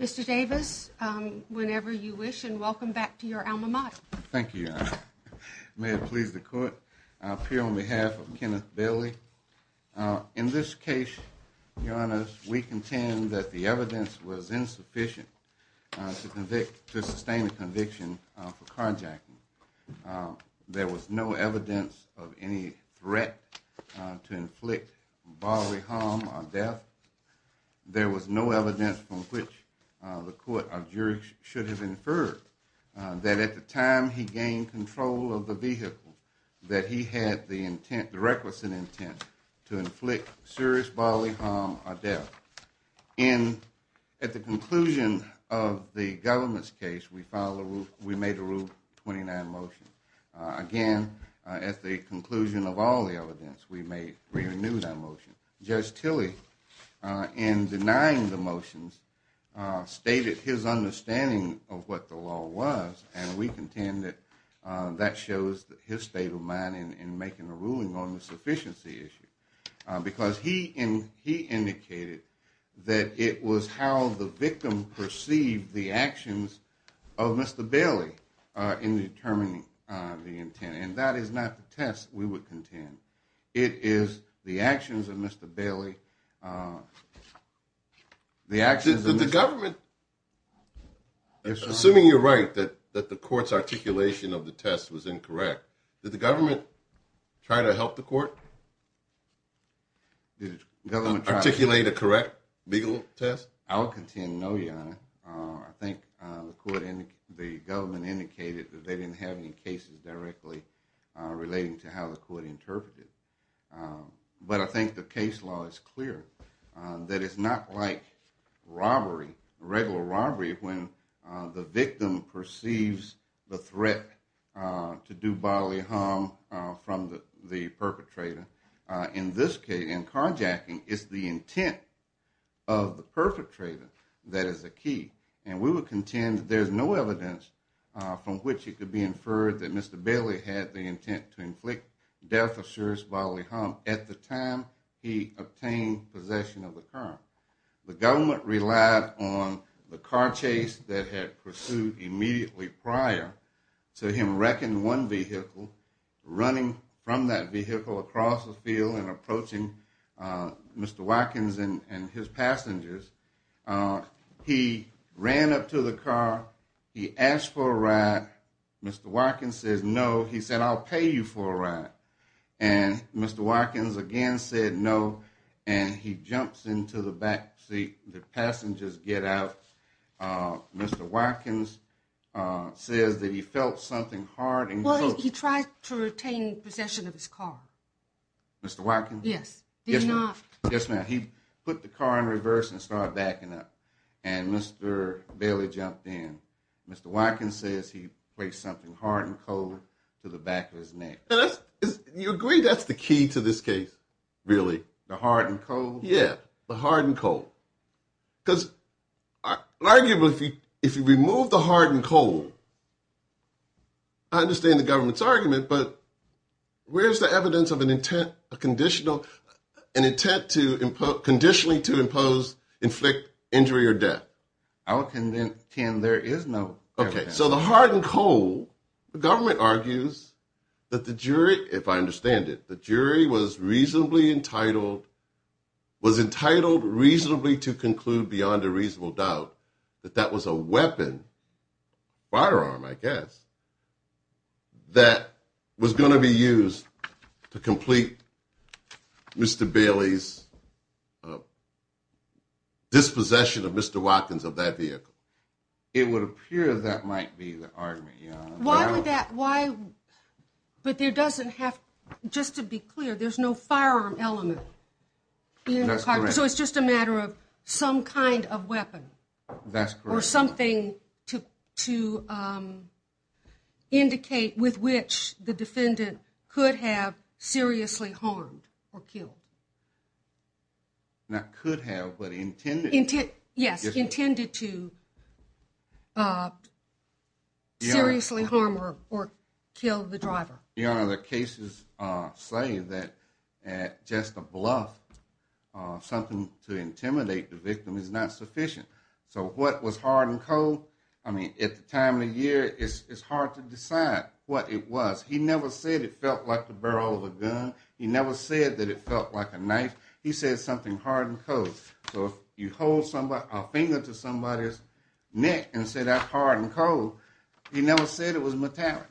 Mr. Davis, whenever you wish, and welcome back to your alma mater. Thank you, Your Honor. May it please the Court, I appear on behalf of Kenneth Bailey. In this case, Your Honor, we contend that the evidence was insufficient to sustain a conviction for carjacking. There was no evidence of any threat to inflict bodily harm or death. There was no evidence from which the Court of Jury should have inferred that at the time he gained control of the vehicle that he had the requisite intent to inflict serious bodily harm or death. At the conclusion of the government's case, we made a Rule 29 motion. Again, at the conclusion of all the evidence, we renewed that motion. Judge Tilley, in denying the motions, stated his understanding of what the law was, and we contend that that shows his state of mind in making a ruling on the sufficiency issue. Because he indicated that it was how the victim perceived the actions of Mr. Bailey in determining the intent. And that is not the test we would contend. It is the actions of Mr. Bailey. Assuming you're right that the court's articulation of the test was incorrect, did the government try to help the court articulate a correct legal test? I will contend no, Your Honor. I think the government indicated that they didn't have any cases directly relating to how the court interpreted. But I think the case law is clear that it's not like robbery, regular robbery, when the victim perceives the threat to do bodily harm from the perpetrator. In this case, in carjacking, it's the intent of the perpetrator that is the key. And we would contend that there's no evidence from which it could be inferred that Mr. Bailey had the intent to inflict death or serious bodily harm at the time he obtained possession of the car. The government relied on the car chase that had pursued immediately prior to him wrecking one vehicle, running from that vehicle across the field and approaching Mr. Watkins and his passengers. He ran up to the car. He asked for a ride. Mr. Watkins says, no. He said, I'll pay you for a ride. And Mr. Watkins again said, no. And he jumps into the back seat. The passengers get out. Mr. Watkins says that he felt something hard. Well, he tried to retain possession of his car. Mr. Watkins? Yes. Yes, ma'am. He put the car in reverse and started backing up. And Mr. Bailey jumped in. Mr. Watkins says he placed something hard and cold to the back of his neck. You agree that's the key to this case? Really? The hard and cold? Yeah, the hard and cold. Because arguably, if you remove the hard and cold, I understand the government's argument, but where's the evidence of an intent, a conditional, an intent to impose, conditionally to impose, inflict injury or death? I would condemn there is no evidence. Okay, so the hard and cold, the government argues that the jury, if I understand it, the jury was reasonably entitled, was entitled reasonably to conclude beyond a reasonable doubt that that was a weapon, firearm, I guess, that was going to be used to complete Mr. Bailey's dispossession of Mr. Watkins of that vehicle. It would appear that might be the argument, yeah. Why would that, why, but there doesn't have, just to be clear, there's no firearm element. That's correct. So it's just a matter of some kind of weapon. That's correct. Or something to indicate with which the defendant could have seriously harmed or killed. Not could have, but intended to. Yes, intended to seriously harm or kill the driver. Your Honor, the cases say that just a bluff, something to intimidate the victim is not sufficient. So what was hard and cold, I mean, at the time of the year, it's hard to decide what it was. He never said it felt like the barrel of a gun. He never said that it felt like a knife. He said something hard and cold. So if you hold a finger to somebody's neck and say that's hard and cold, he never said it was metallic.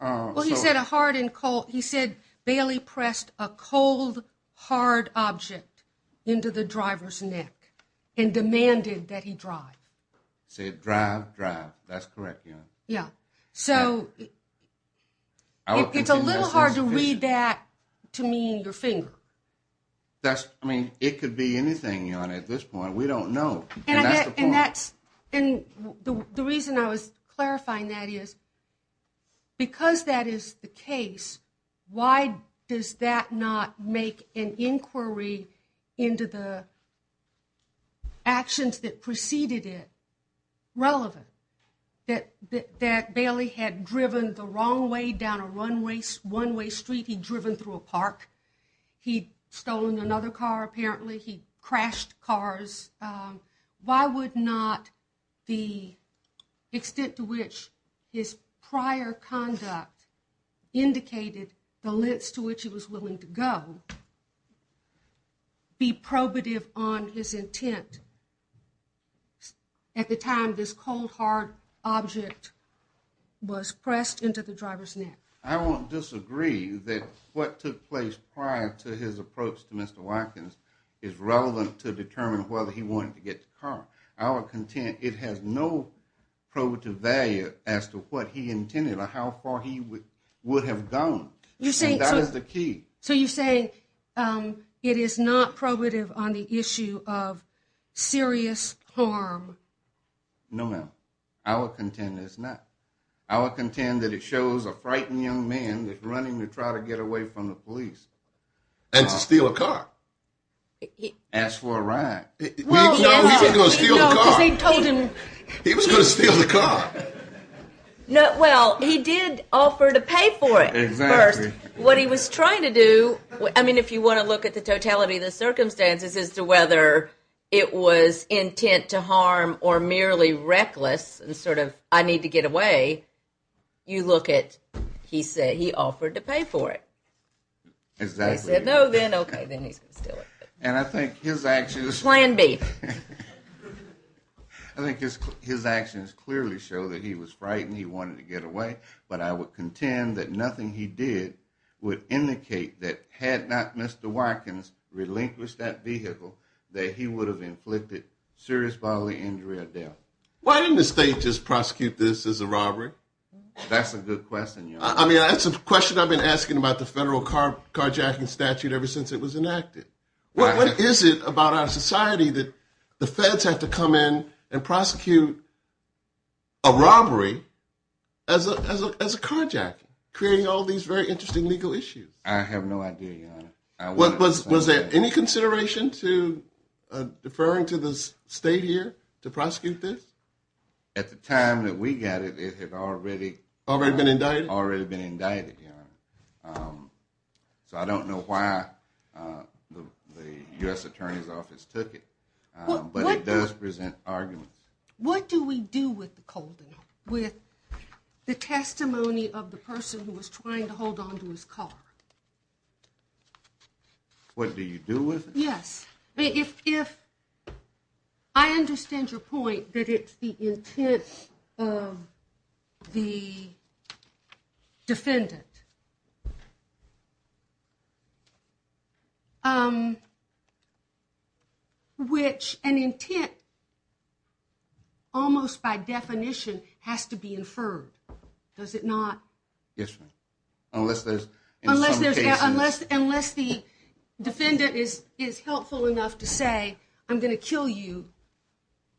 Well, he said a hard and cold, he said Bailey pressed a cold, hard object into the driver's neck and demanded that he drive. Said drive, drive. That's correct, Your Honor. Yeah. So it's a little hard to read that to mean your finger. That's, I mean, it could be anything, Your Honor, at this point. We don't know. And that's the point. And that's, and the reason I was clarifying that is because that is the case, why does that not make an inquiry into the actions that preceded it relevant? That Bailey had driven the wrong way down a one-way street, he'd driven through a park, he'd stolen another car apparently, he'd crashed cars. Why would not the extent to which his prior conduct indicated the lengths to which he was willing to go be probative on his intent at the time this cold, hard object was pressed into the driver's neck? I won't disagree that what took place prior to his approach to Mr. Watkins is relevant to determine whether he wanted to get the car. I would contend it has no probative value as to what he intended or how far he would have gone. You're saying... And that is the key. So you're saying it is not probative on the issue of serious harm? No, ma'am. I would contend it's not. I would contend that it shows a frightened young man that's running to try to get away from the police. And to steal a car. Ask for a ride. No, because he told him... He was going to steal the car. No, well, he did offer to pay for it first. Exactly. What he was trying to do, I mean, if you want to look at the totality of the circumstances as to whether it was intent to harm or merely reckless and sort of, I need to get away, you look at, he said, he offered to pay for it. Exactly. He said, no, then, okay, then he's going to steal it. And I think his actions... Plan B. I think his actions clearly show that he was frightened, he wanted to get away, but I would contend that nothing he did would indicate that had not Mr. Watkins relinquished that vehicle, that he would have inflicted serious bodily injury or death. Why didn't the state just prosecute this as a robbery? That's a good question. I mean, that's a question I've been asking about the federal carjacking statute ever since it was enacted. What is it about our society that the feds have to come in and prosecute a robbery as a carjacking, creating all these very interesting legal issues? I have no idea, Your Honor. Was there any consideration to deferring to the state here to prosecute this? At the time that we got it, it had already... Already been indicted? Already been indicted, Your Honor. So I don't know why the U.S. Attorney's Office took it. But it does present arguments. What do we do with the colden? With the testimony of the person who was trying to hold onto his car? What do you do with it? Yes. If... I understand your point that it's the intent of the defendant. Which an intent, almost by definition, has to be inferred. Does it not? Yes, Your Honor. Unless there's... I'm going to kill you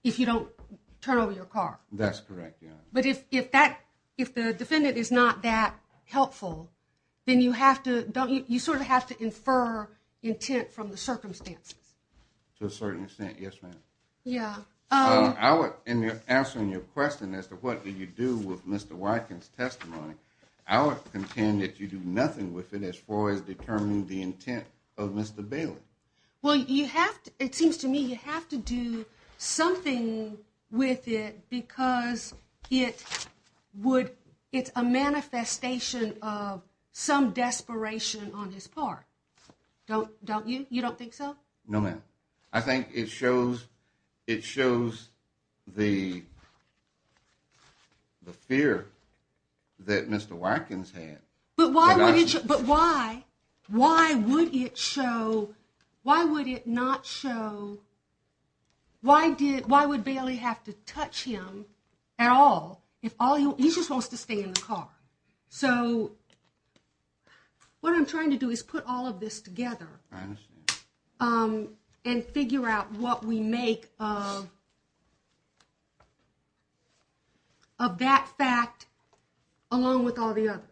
if you don't turn over your car. That's correct, Your Honor. But if that... If the defendant is not that helpful, then you have to... You sort of have to infer intent from the circumstances. To a certain extent, yes, ma'am. Yeah. In answering your question as to what do you do with Mr. Watkins' testimony, I would contend that you do nothing with it as far as determining the intent of Mr. Bailey. Well, you have to... It seems to me you have to do something with it because it would... It's a manifestation of some desperation on his part. Don't you? You don't think so? No, ma'am. I think it shows... It shows the fear that Mr. Watkins had. But why would it... But why? Why would it show... Why would it not show... Why did... Why would Bailey have to touch him at all if all he... He just wants to stay in the car. So what I'm trying to do is put all of this together. I understand. And figure out what we make of that fact along with all the others.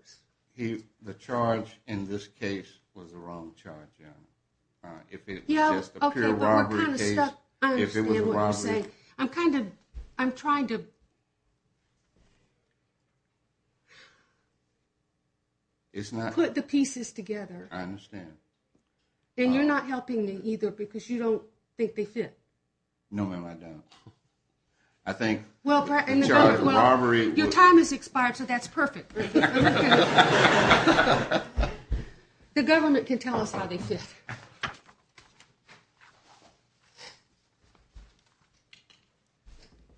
The charge in this case was the wrong charge, ma'am. If it was just a pure robbery case... Yeah, okay, but what kind of stuff... I understand what you're saying. If it was a robbery... I'm kind of... I'm trying to... It's not... Put the pieces together. I understand. And you're not helping me either because you don't think they fit. No, ma'am, I don't. I think the charge of robbery... Well, your time has expired, so that's perfect. The government can tell us how they fit.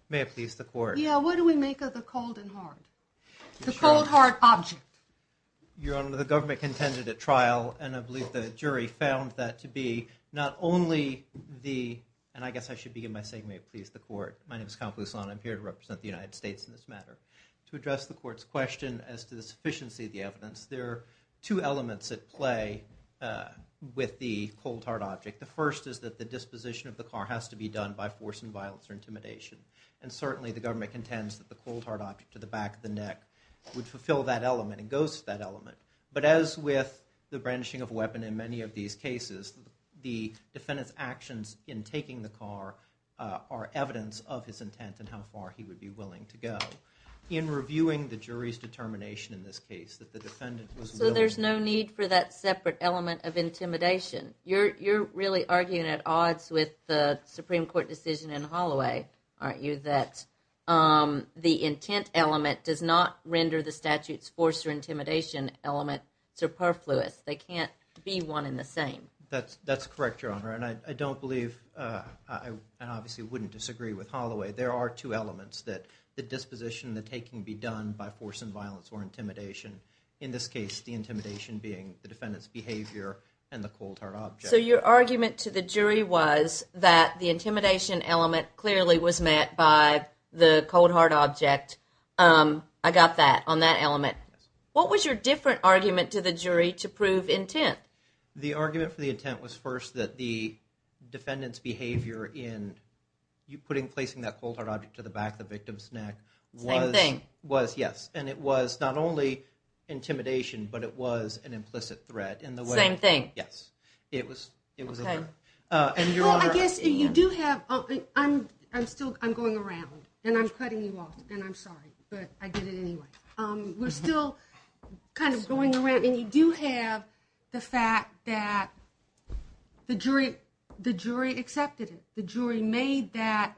May it please the court. Yeah, what do we make of the cold and hard? The cold hard object. Your Honor, the government contended at trial, and I believe the jury found that to be not only the... And I guess I should begin by saying may it please the court. My name is Kyle Poussaint. I'm here to represent the United States in this matter. To address the court's question as to the sufficiency of the evidence, there are two elements at play with the cold hard object. The first is that the disposition of the car has to be done by force and violence or intimidation. And certainly the government contends that the cold hard object to the back of the neck would fulfill that element and goes to that element. But as with the brandishing of a weapon in many of these cases, the defendant's actions in taking the car are evidence of his intent and how far he would be willing to go. In reviewing the jury's determination in this case, that the defendant was willing... So there's no need for that separate element of intimidation. You're really arguing at odds with the Supreme Court decision in Holloway, aren't you, that the intent element does not render the statute's force or intimidation element superfluous. They can't be one and the same. That's correct, Your Honor. And I don't believe, and obviously wouldn't disagree with Holloway, there are two elements that the disposition, the taking, be done by force and violence or intimidation. In this case, the intimidation being the defendant's behavior and the cold hard object. So your argument to the jury was that the intimidation element clearly was met by the cold hard object. I got that on that element. What was your different argument to the jury to prove intent? The argument for the intent was first that the defendant's behavior in placing that cold hard object to the back of the victim's neck was... Same thing. Yes, and it was not only intimidation, but it was an implicit threat. Same thing. Yes, it was a threat. Well, I guess you do have... I'm going around, and I'm cutting you off, and I'm sorry, but I did it anyway. We're still kind of going around, and you do have the fact that the jury accepted it, the jury made that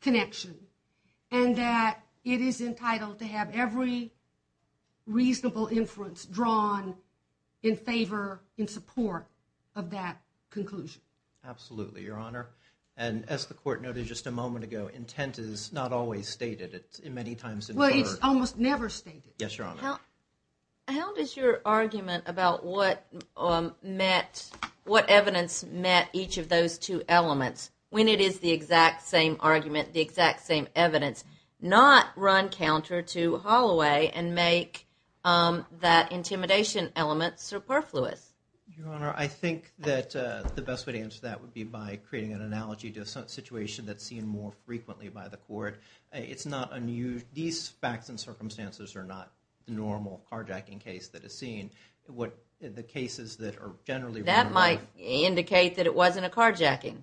connection, and that it is entitled to have every reasonable inference drawn in favor, in support of that conclusion. Absolutely, Your Honor. And as the court noted just a moment ago, intent is not always stated. It's many times in favor. Well, it's almost never stated. Yes, Your Honor. How does your argument about what evidence met each of those two elements, when it is the exact same argument, the exact same evidence, not run counter to Holloway and make that intimidation element superfluous? Your Honor, I think that the best way to answer that would be by creating an analogy to a situation that's seen more frequently by the court. These facts and circumstances are not the normal carjacking case that is seen. The cases that are generally... That might indicate that it wasn't a carjacking.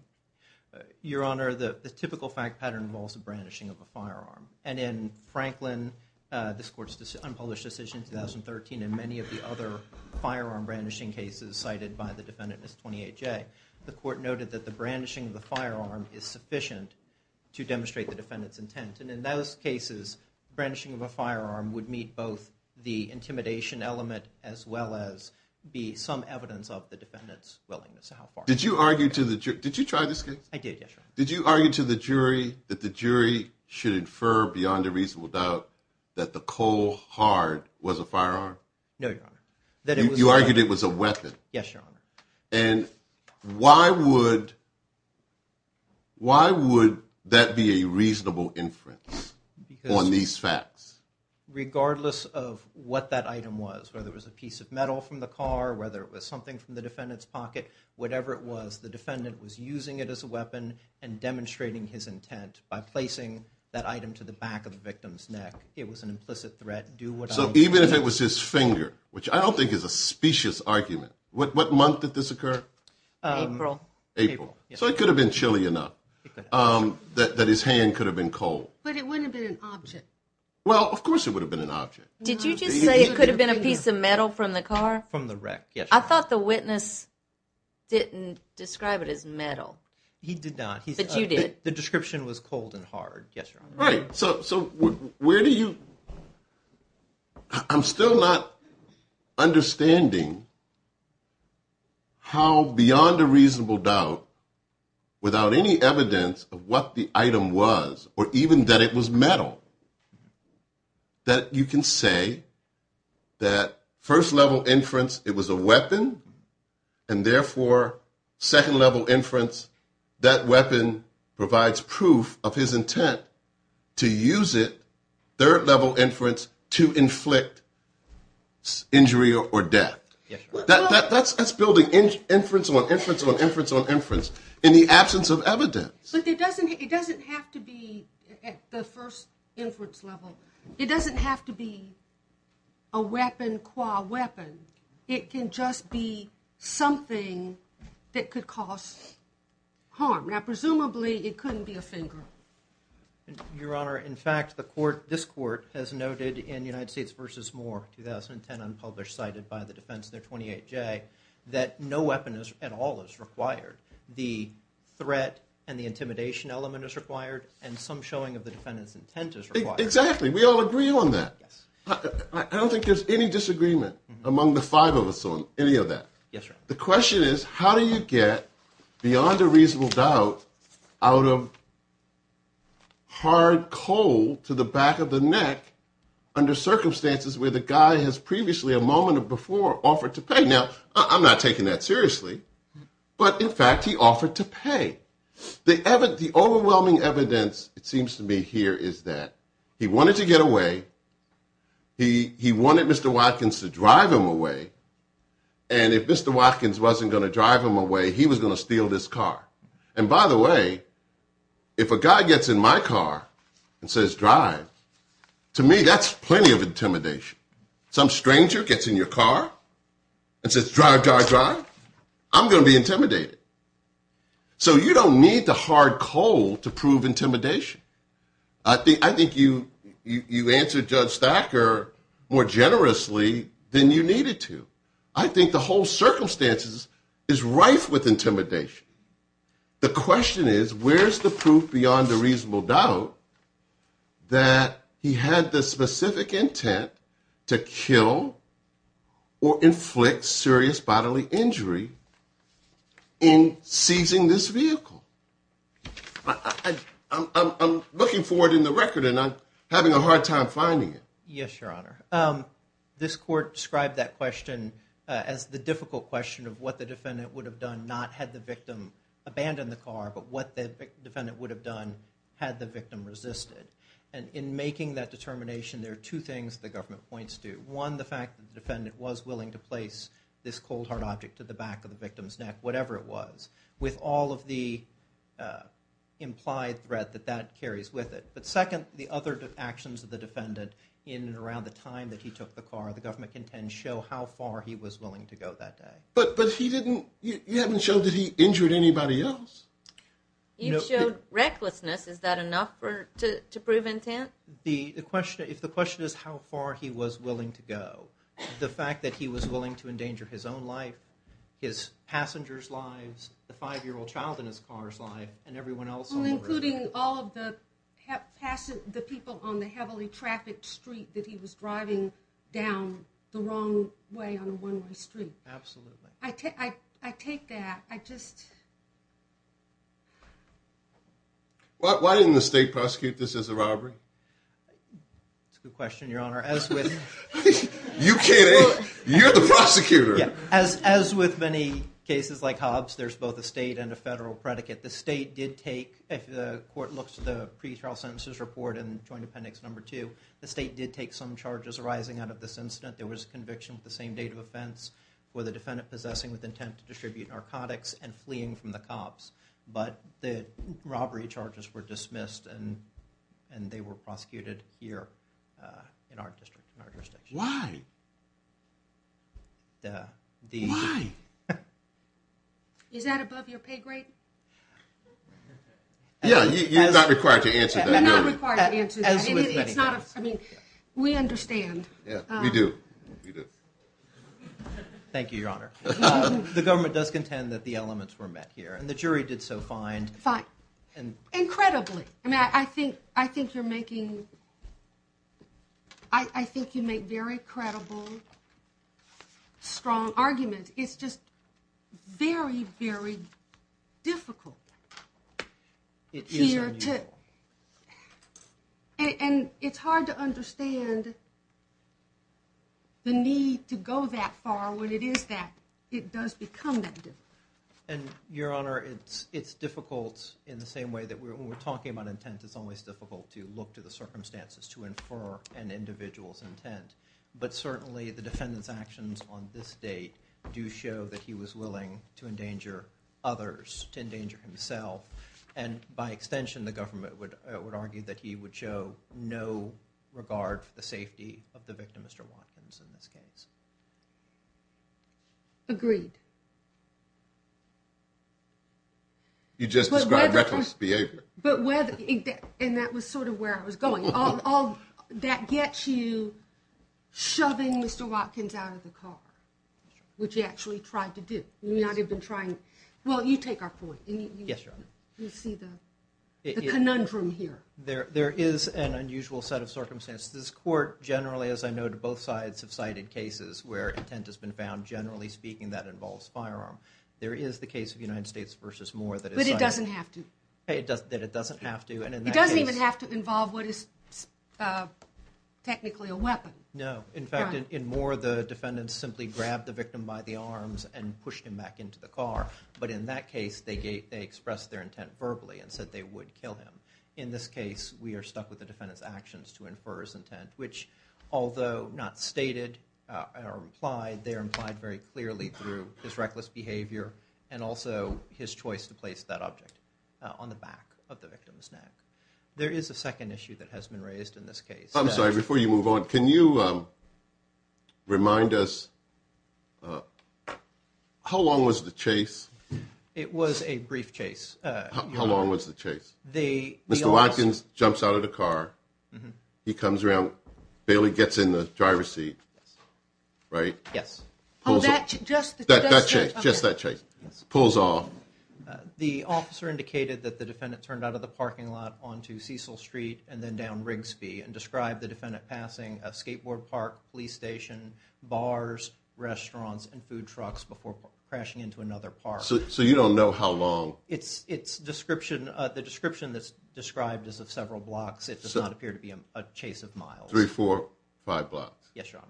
Your Honor, the typical fact pattern involves the brandishing of a firearm. And in Franklin, this court's unpublished decision in 2013, and many of the other firearm brandishing cases cited by the defendant in this 28-J, the court noted that the brandishing of the firearm is sufficient to demonstrate the defendant's intent. And in those cases, brandishing of a firearm would meet both the intimidation element as well as be some evidence of the defendant's willingness. Did you try this case? I did, yes, Your Honor. Did you argue to the jury that the jury should infer beyond a reasonable doubt that the coal hard was a firearm? No, Your Honor. You argued it was a weapon. Yes, Your Honor. And why would that be a reasonable inference on these facts? Regardless of what that item was, whether it was a piece of metal from the car, whether it was something from the defendant's pocket, whatever it was, the defendant was using it as a weapon and demonstrating his intent by placing that item to the back of the victim's neck. It was an implicit threat. So even if it was his finger, which I don't think is a specious argument, what month did this occur? April. So it could have been chilly enough that his hand could have been cold. But it wouldn't have been an object. Well, of course it would have been an object. Did you just say it could have been a piece of metal from the car? From the wreck, yes, Your Honor. I thought the witness didn't describe it as metal. He did not. But you did. The description was cold and hard, yes, Your Honor. Right. So where do you – I'm still not understanding how beyond a reasonable doubt, without any evidence of what the item was or even that it was metal, that you can say that first-level inference it was a weapon and therefore second-level inference that weapon provides proof of his intent to use it, third-level inference, to inflict injury or death? Yes, Your Honor. That's building inference on inference on inference on inference in the absence of evidence. But it doesn't have to be at the first-inference level. It doesn't have to be a weapon qua weapon. It can just be something that could cause harm. Now, presumably it couldn't be a finger. Your Honor, in fact, the court, this court, has noted in United States v. Moore, 2010, unpublished, cited by the defense in their 28-J, that no weapon at all is required. The threat and the intimidation element is required and some showing of the defendant's intent is required. Exactly. We all agree on that. Yes. I don't think there's any disagreement among the five of us on any of that. Yes, Your Honor. The question is how do you get, beyond a reasonable doubt, out of hard coal to the back of the neck under circumstances where the guy has previously, a moment before, offered to pay? Now, I'm not taking that seriously, but, in fact, he offered to pay. The overwhelming evidence, it seems to me here, is that he wanted to get away, he wanted Mr. Watkins to drive him away, and if Mr. Watkins wasn't going to drive him away, he was going to steal this car. And, by the way, if a guy gets in my car and says, drive, to me that's plenty of intimidation. Some stranger gets in your car and says, drive, drive, drive, I'm going to be intimidated. So you don't need the hard coal to prove intimidation. I think you answered Judge Stacker more generously than you needed to. I think the whole circumstance is rife with intimidation. The question is, where's the proof beyond a reasonable doubt that he had the specific intent to kill or inflict serious bodily injury in seizing this vehicle? I'm looking for it in the record, and I'm having a hard time finding it. Yes, Your Honor. This court described that question as the difficult question of what the defendant would have done not had the victim abandoned the car, but what the defendant would have done had the victim resisted. And in making that determination, there are two things the government points to. One, the fact that the defendant was willing to place this cold hard object to the back of the victim's neck, whatever it was. With all of the implied threat that that carries with it. But second, the other actions of the defendant in and around the time that he took the car, the government can show how far he was willing to go that day. But he didn't, you haven't showed that he injured anybody else. You showed recklessness. Is that enough to prove intent? The question, if the question is how far he was willing to go, the fact that he was willing to endanger his own life, his passenger's lives, the five-year-old child in his car's life, and everyone else's lives. Including all of the people on the heavily trafficked street that he was driving down the wrong way on a one-way street. Absolutely. I take that. I just... Why didn't the state prosecute this as a robbery? That's a good question, Your Honor. You kidding? You're the prosecutor. As with many cases like Hobbs, there's both a state and a federal predicate. The state did take, if the court looks at the pretrial sentences report and joint appendix number two, the state did take some charges arising out of this incident. There was conviction with the same date of offense for the defendant possessing with intent to distribute narcotics and fleeing from the cops. But the robbery charges were dismissed and they were prosecuted here in our district, in our jurisdiction. Why? Duh. Why? Is that above your pay grade? Yeah, you're not required to answer that. You're not required to answer that. I mean, we understand. Yeah, we do. Thank you, Your Honor. The government does contend that the elements were met here, and the jury did so fine. Fine. Incredibly. I mean, I think you're making... terrible, strong arguments. It's just very, very difficult. It is unusual. And it's hard to understand the need to go that far when it is that, it does become that difficult. And, Your Honor, it's difficult in the same way that when we're talking about intent, it's always difficult to look to the circumstances to infer an individual's intent. But certainly, the defendant's actions on this date do show that he was willing to endanger others, to endanger himself. And by extension, the government would argue that he would show no regard for the safety of the victim, Mr. Watkins, in this case. Agreed. You just described reckless behavior. And that was sort of where I was going. That gets you shoving Mr. Watkins out of the car, which he actually tried to do. Well, you take our point. You see the conundrum here. There is an unusual set of circumstances. This Court, generally, as I know to both sides, have cited cases where intent has been found. Generally speaking, that involves firearm. There is the case of United States v. Moore that is cited. But it doesn't have to. It doesn't even have to involve what is technically a weapon. No. In fact, in Moore, the defendant simply grabbed the victim by the arms and pushed him back into the car. But in that case, they expressed their intent verbally and said they would kill him. In this case, we are stuck with the defendant's actions to infer his intent, which, although not stated or implied, they are implied very clearly through his reckless behavior and also his choice to place that object on the back of the victim's neck. There is a second issue that has been raised in this case. I'm sorry. Before you move on, can you remind us how long was the chase? It was a brief chase. How long was the chase? Mr. Watkins jumps out of the car. He comes around. Bailey gets in the driver's seat, right? Yes. Just that chase. Pulls off. The officer indicated that the defendant turned out of the parking lot onto Cecil Street and then down Rigsby and described the defendant passing a skateboard park, police station, bars, restaurants, and food trucks before crashing into another park. So you don't know how long. The description that's described is of several blocks. It does not appear to be a chase of miles. Three, four, five blocks. Yes, Your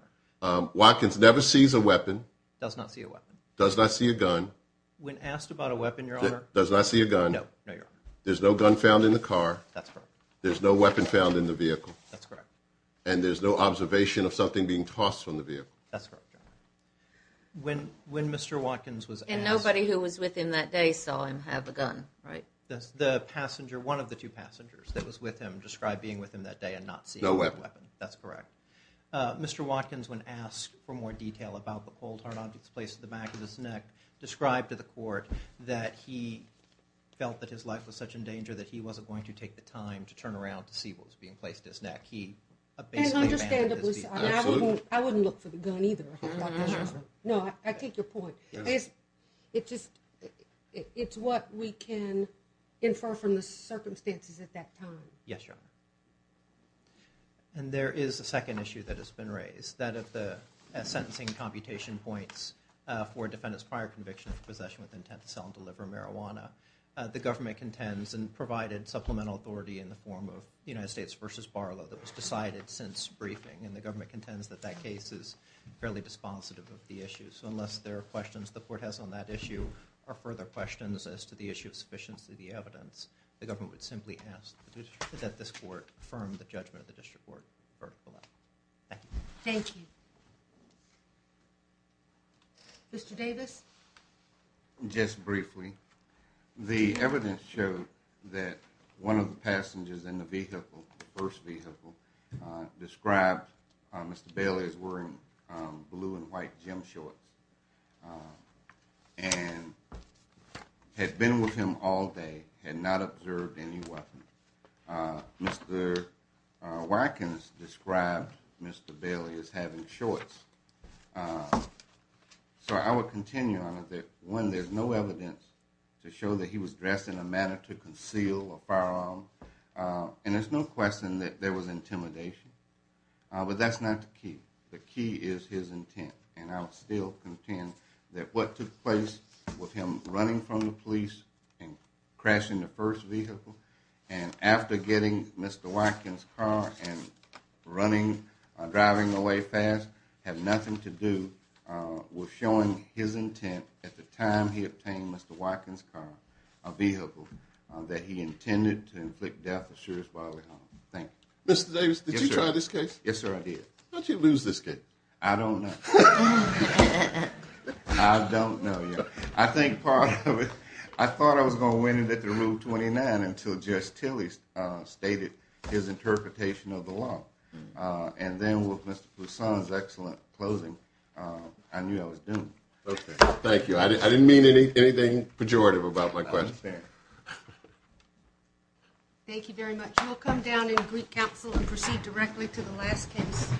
Honor. Watkins never sees a weapon. Does not see a weapon. Does not see a gun. When asked about a weapon, Your Honor. Does not see a gun. No, Your Honor. There's no gun found in the car. That's correct. There's no weapon found in the vehicle. That's correct. And there's no observation of something being tossed from the vehicle. That's correct, Your Honor. When Mr. Watkins was asked. And nobody who was with him that day saw him have a gun, right? The passenger, one of the two passengers that was with him described being with him that day and not seeing a weapon. No weapon. That's correct. Mr. Watkins, when asked for more detail about the cold hard objects placed at the back of his neck, described to the court that he felt that his life was such in danger that he wasn't going to take the time to turn around to see what was being placed at his neck. He basically abandoned his vehicle. I wouldn't look for the gun either. No, I take your point. It's what we can infer from the circumstances at that time. Yes, Your Honor. And there is a second issue that has been raised, that of the sentencing computation points for defendants prior conviction of possession with intent to sell and deliver marijuana. The government contends and provided supplemental authority in the form of United States v. Barlow that was decided since briefing, and the government contends that that case is fairly dispositive of the issue. So unless there are questions the court has on that issue or further questions as to the issue of sufficiency of the evidence, the government would simply ask that this court affirm the judgment of the district court. Thank you. Thank you. Mr. Davis. Just briefly, the evidence showed that one of the passengers in the vehicle, the first vehicle, described Mr. Bailey as wearing blue and white gym shorts and had been with him all day, had not observed any weapon. Mr. Watkins described Mr. Bailey as having shorts. So I would continue on it that, one, there's no evidence to show that he was dressed in a manner to conceal a firearm, and there's no question that there was intimidation. But that's not the key. The key is his intent. And I'll still contend that what took place with him running from the police and crashing the first vehicle and after getting Mr. Watkins' car and driving away fast had nothing to do with showing his intent at the time he obtained Mr. Watkins' car, a vehicle, that he intended to inflict death assurance while at home. Thank you. Mr. Davis, did you try this case? Yes, sir, I did. How'd you lose this case? I don't know. I don't know yet. I think part of it, I thought I was going to win it at the Rule 29 until Judge Tilley stated his interpretation of the law. And then with Mr. Pousson's excellent closing, I knew I was doomed. Okay. Thank you. I didn't mean anything pejorative about my question. I understand. Thank you very much. We'll come down in Greek Council and proceed directly to the last case.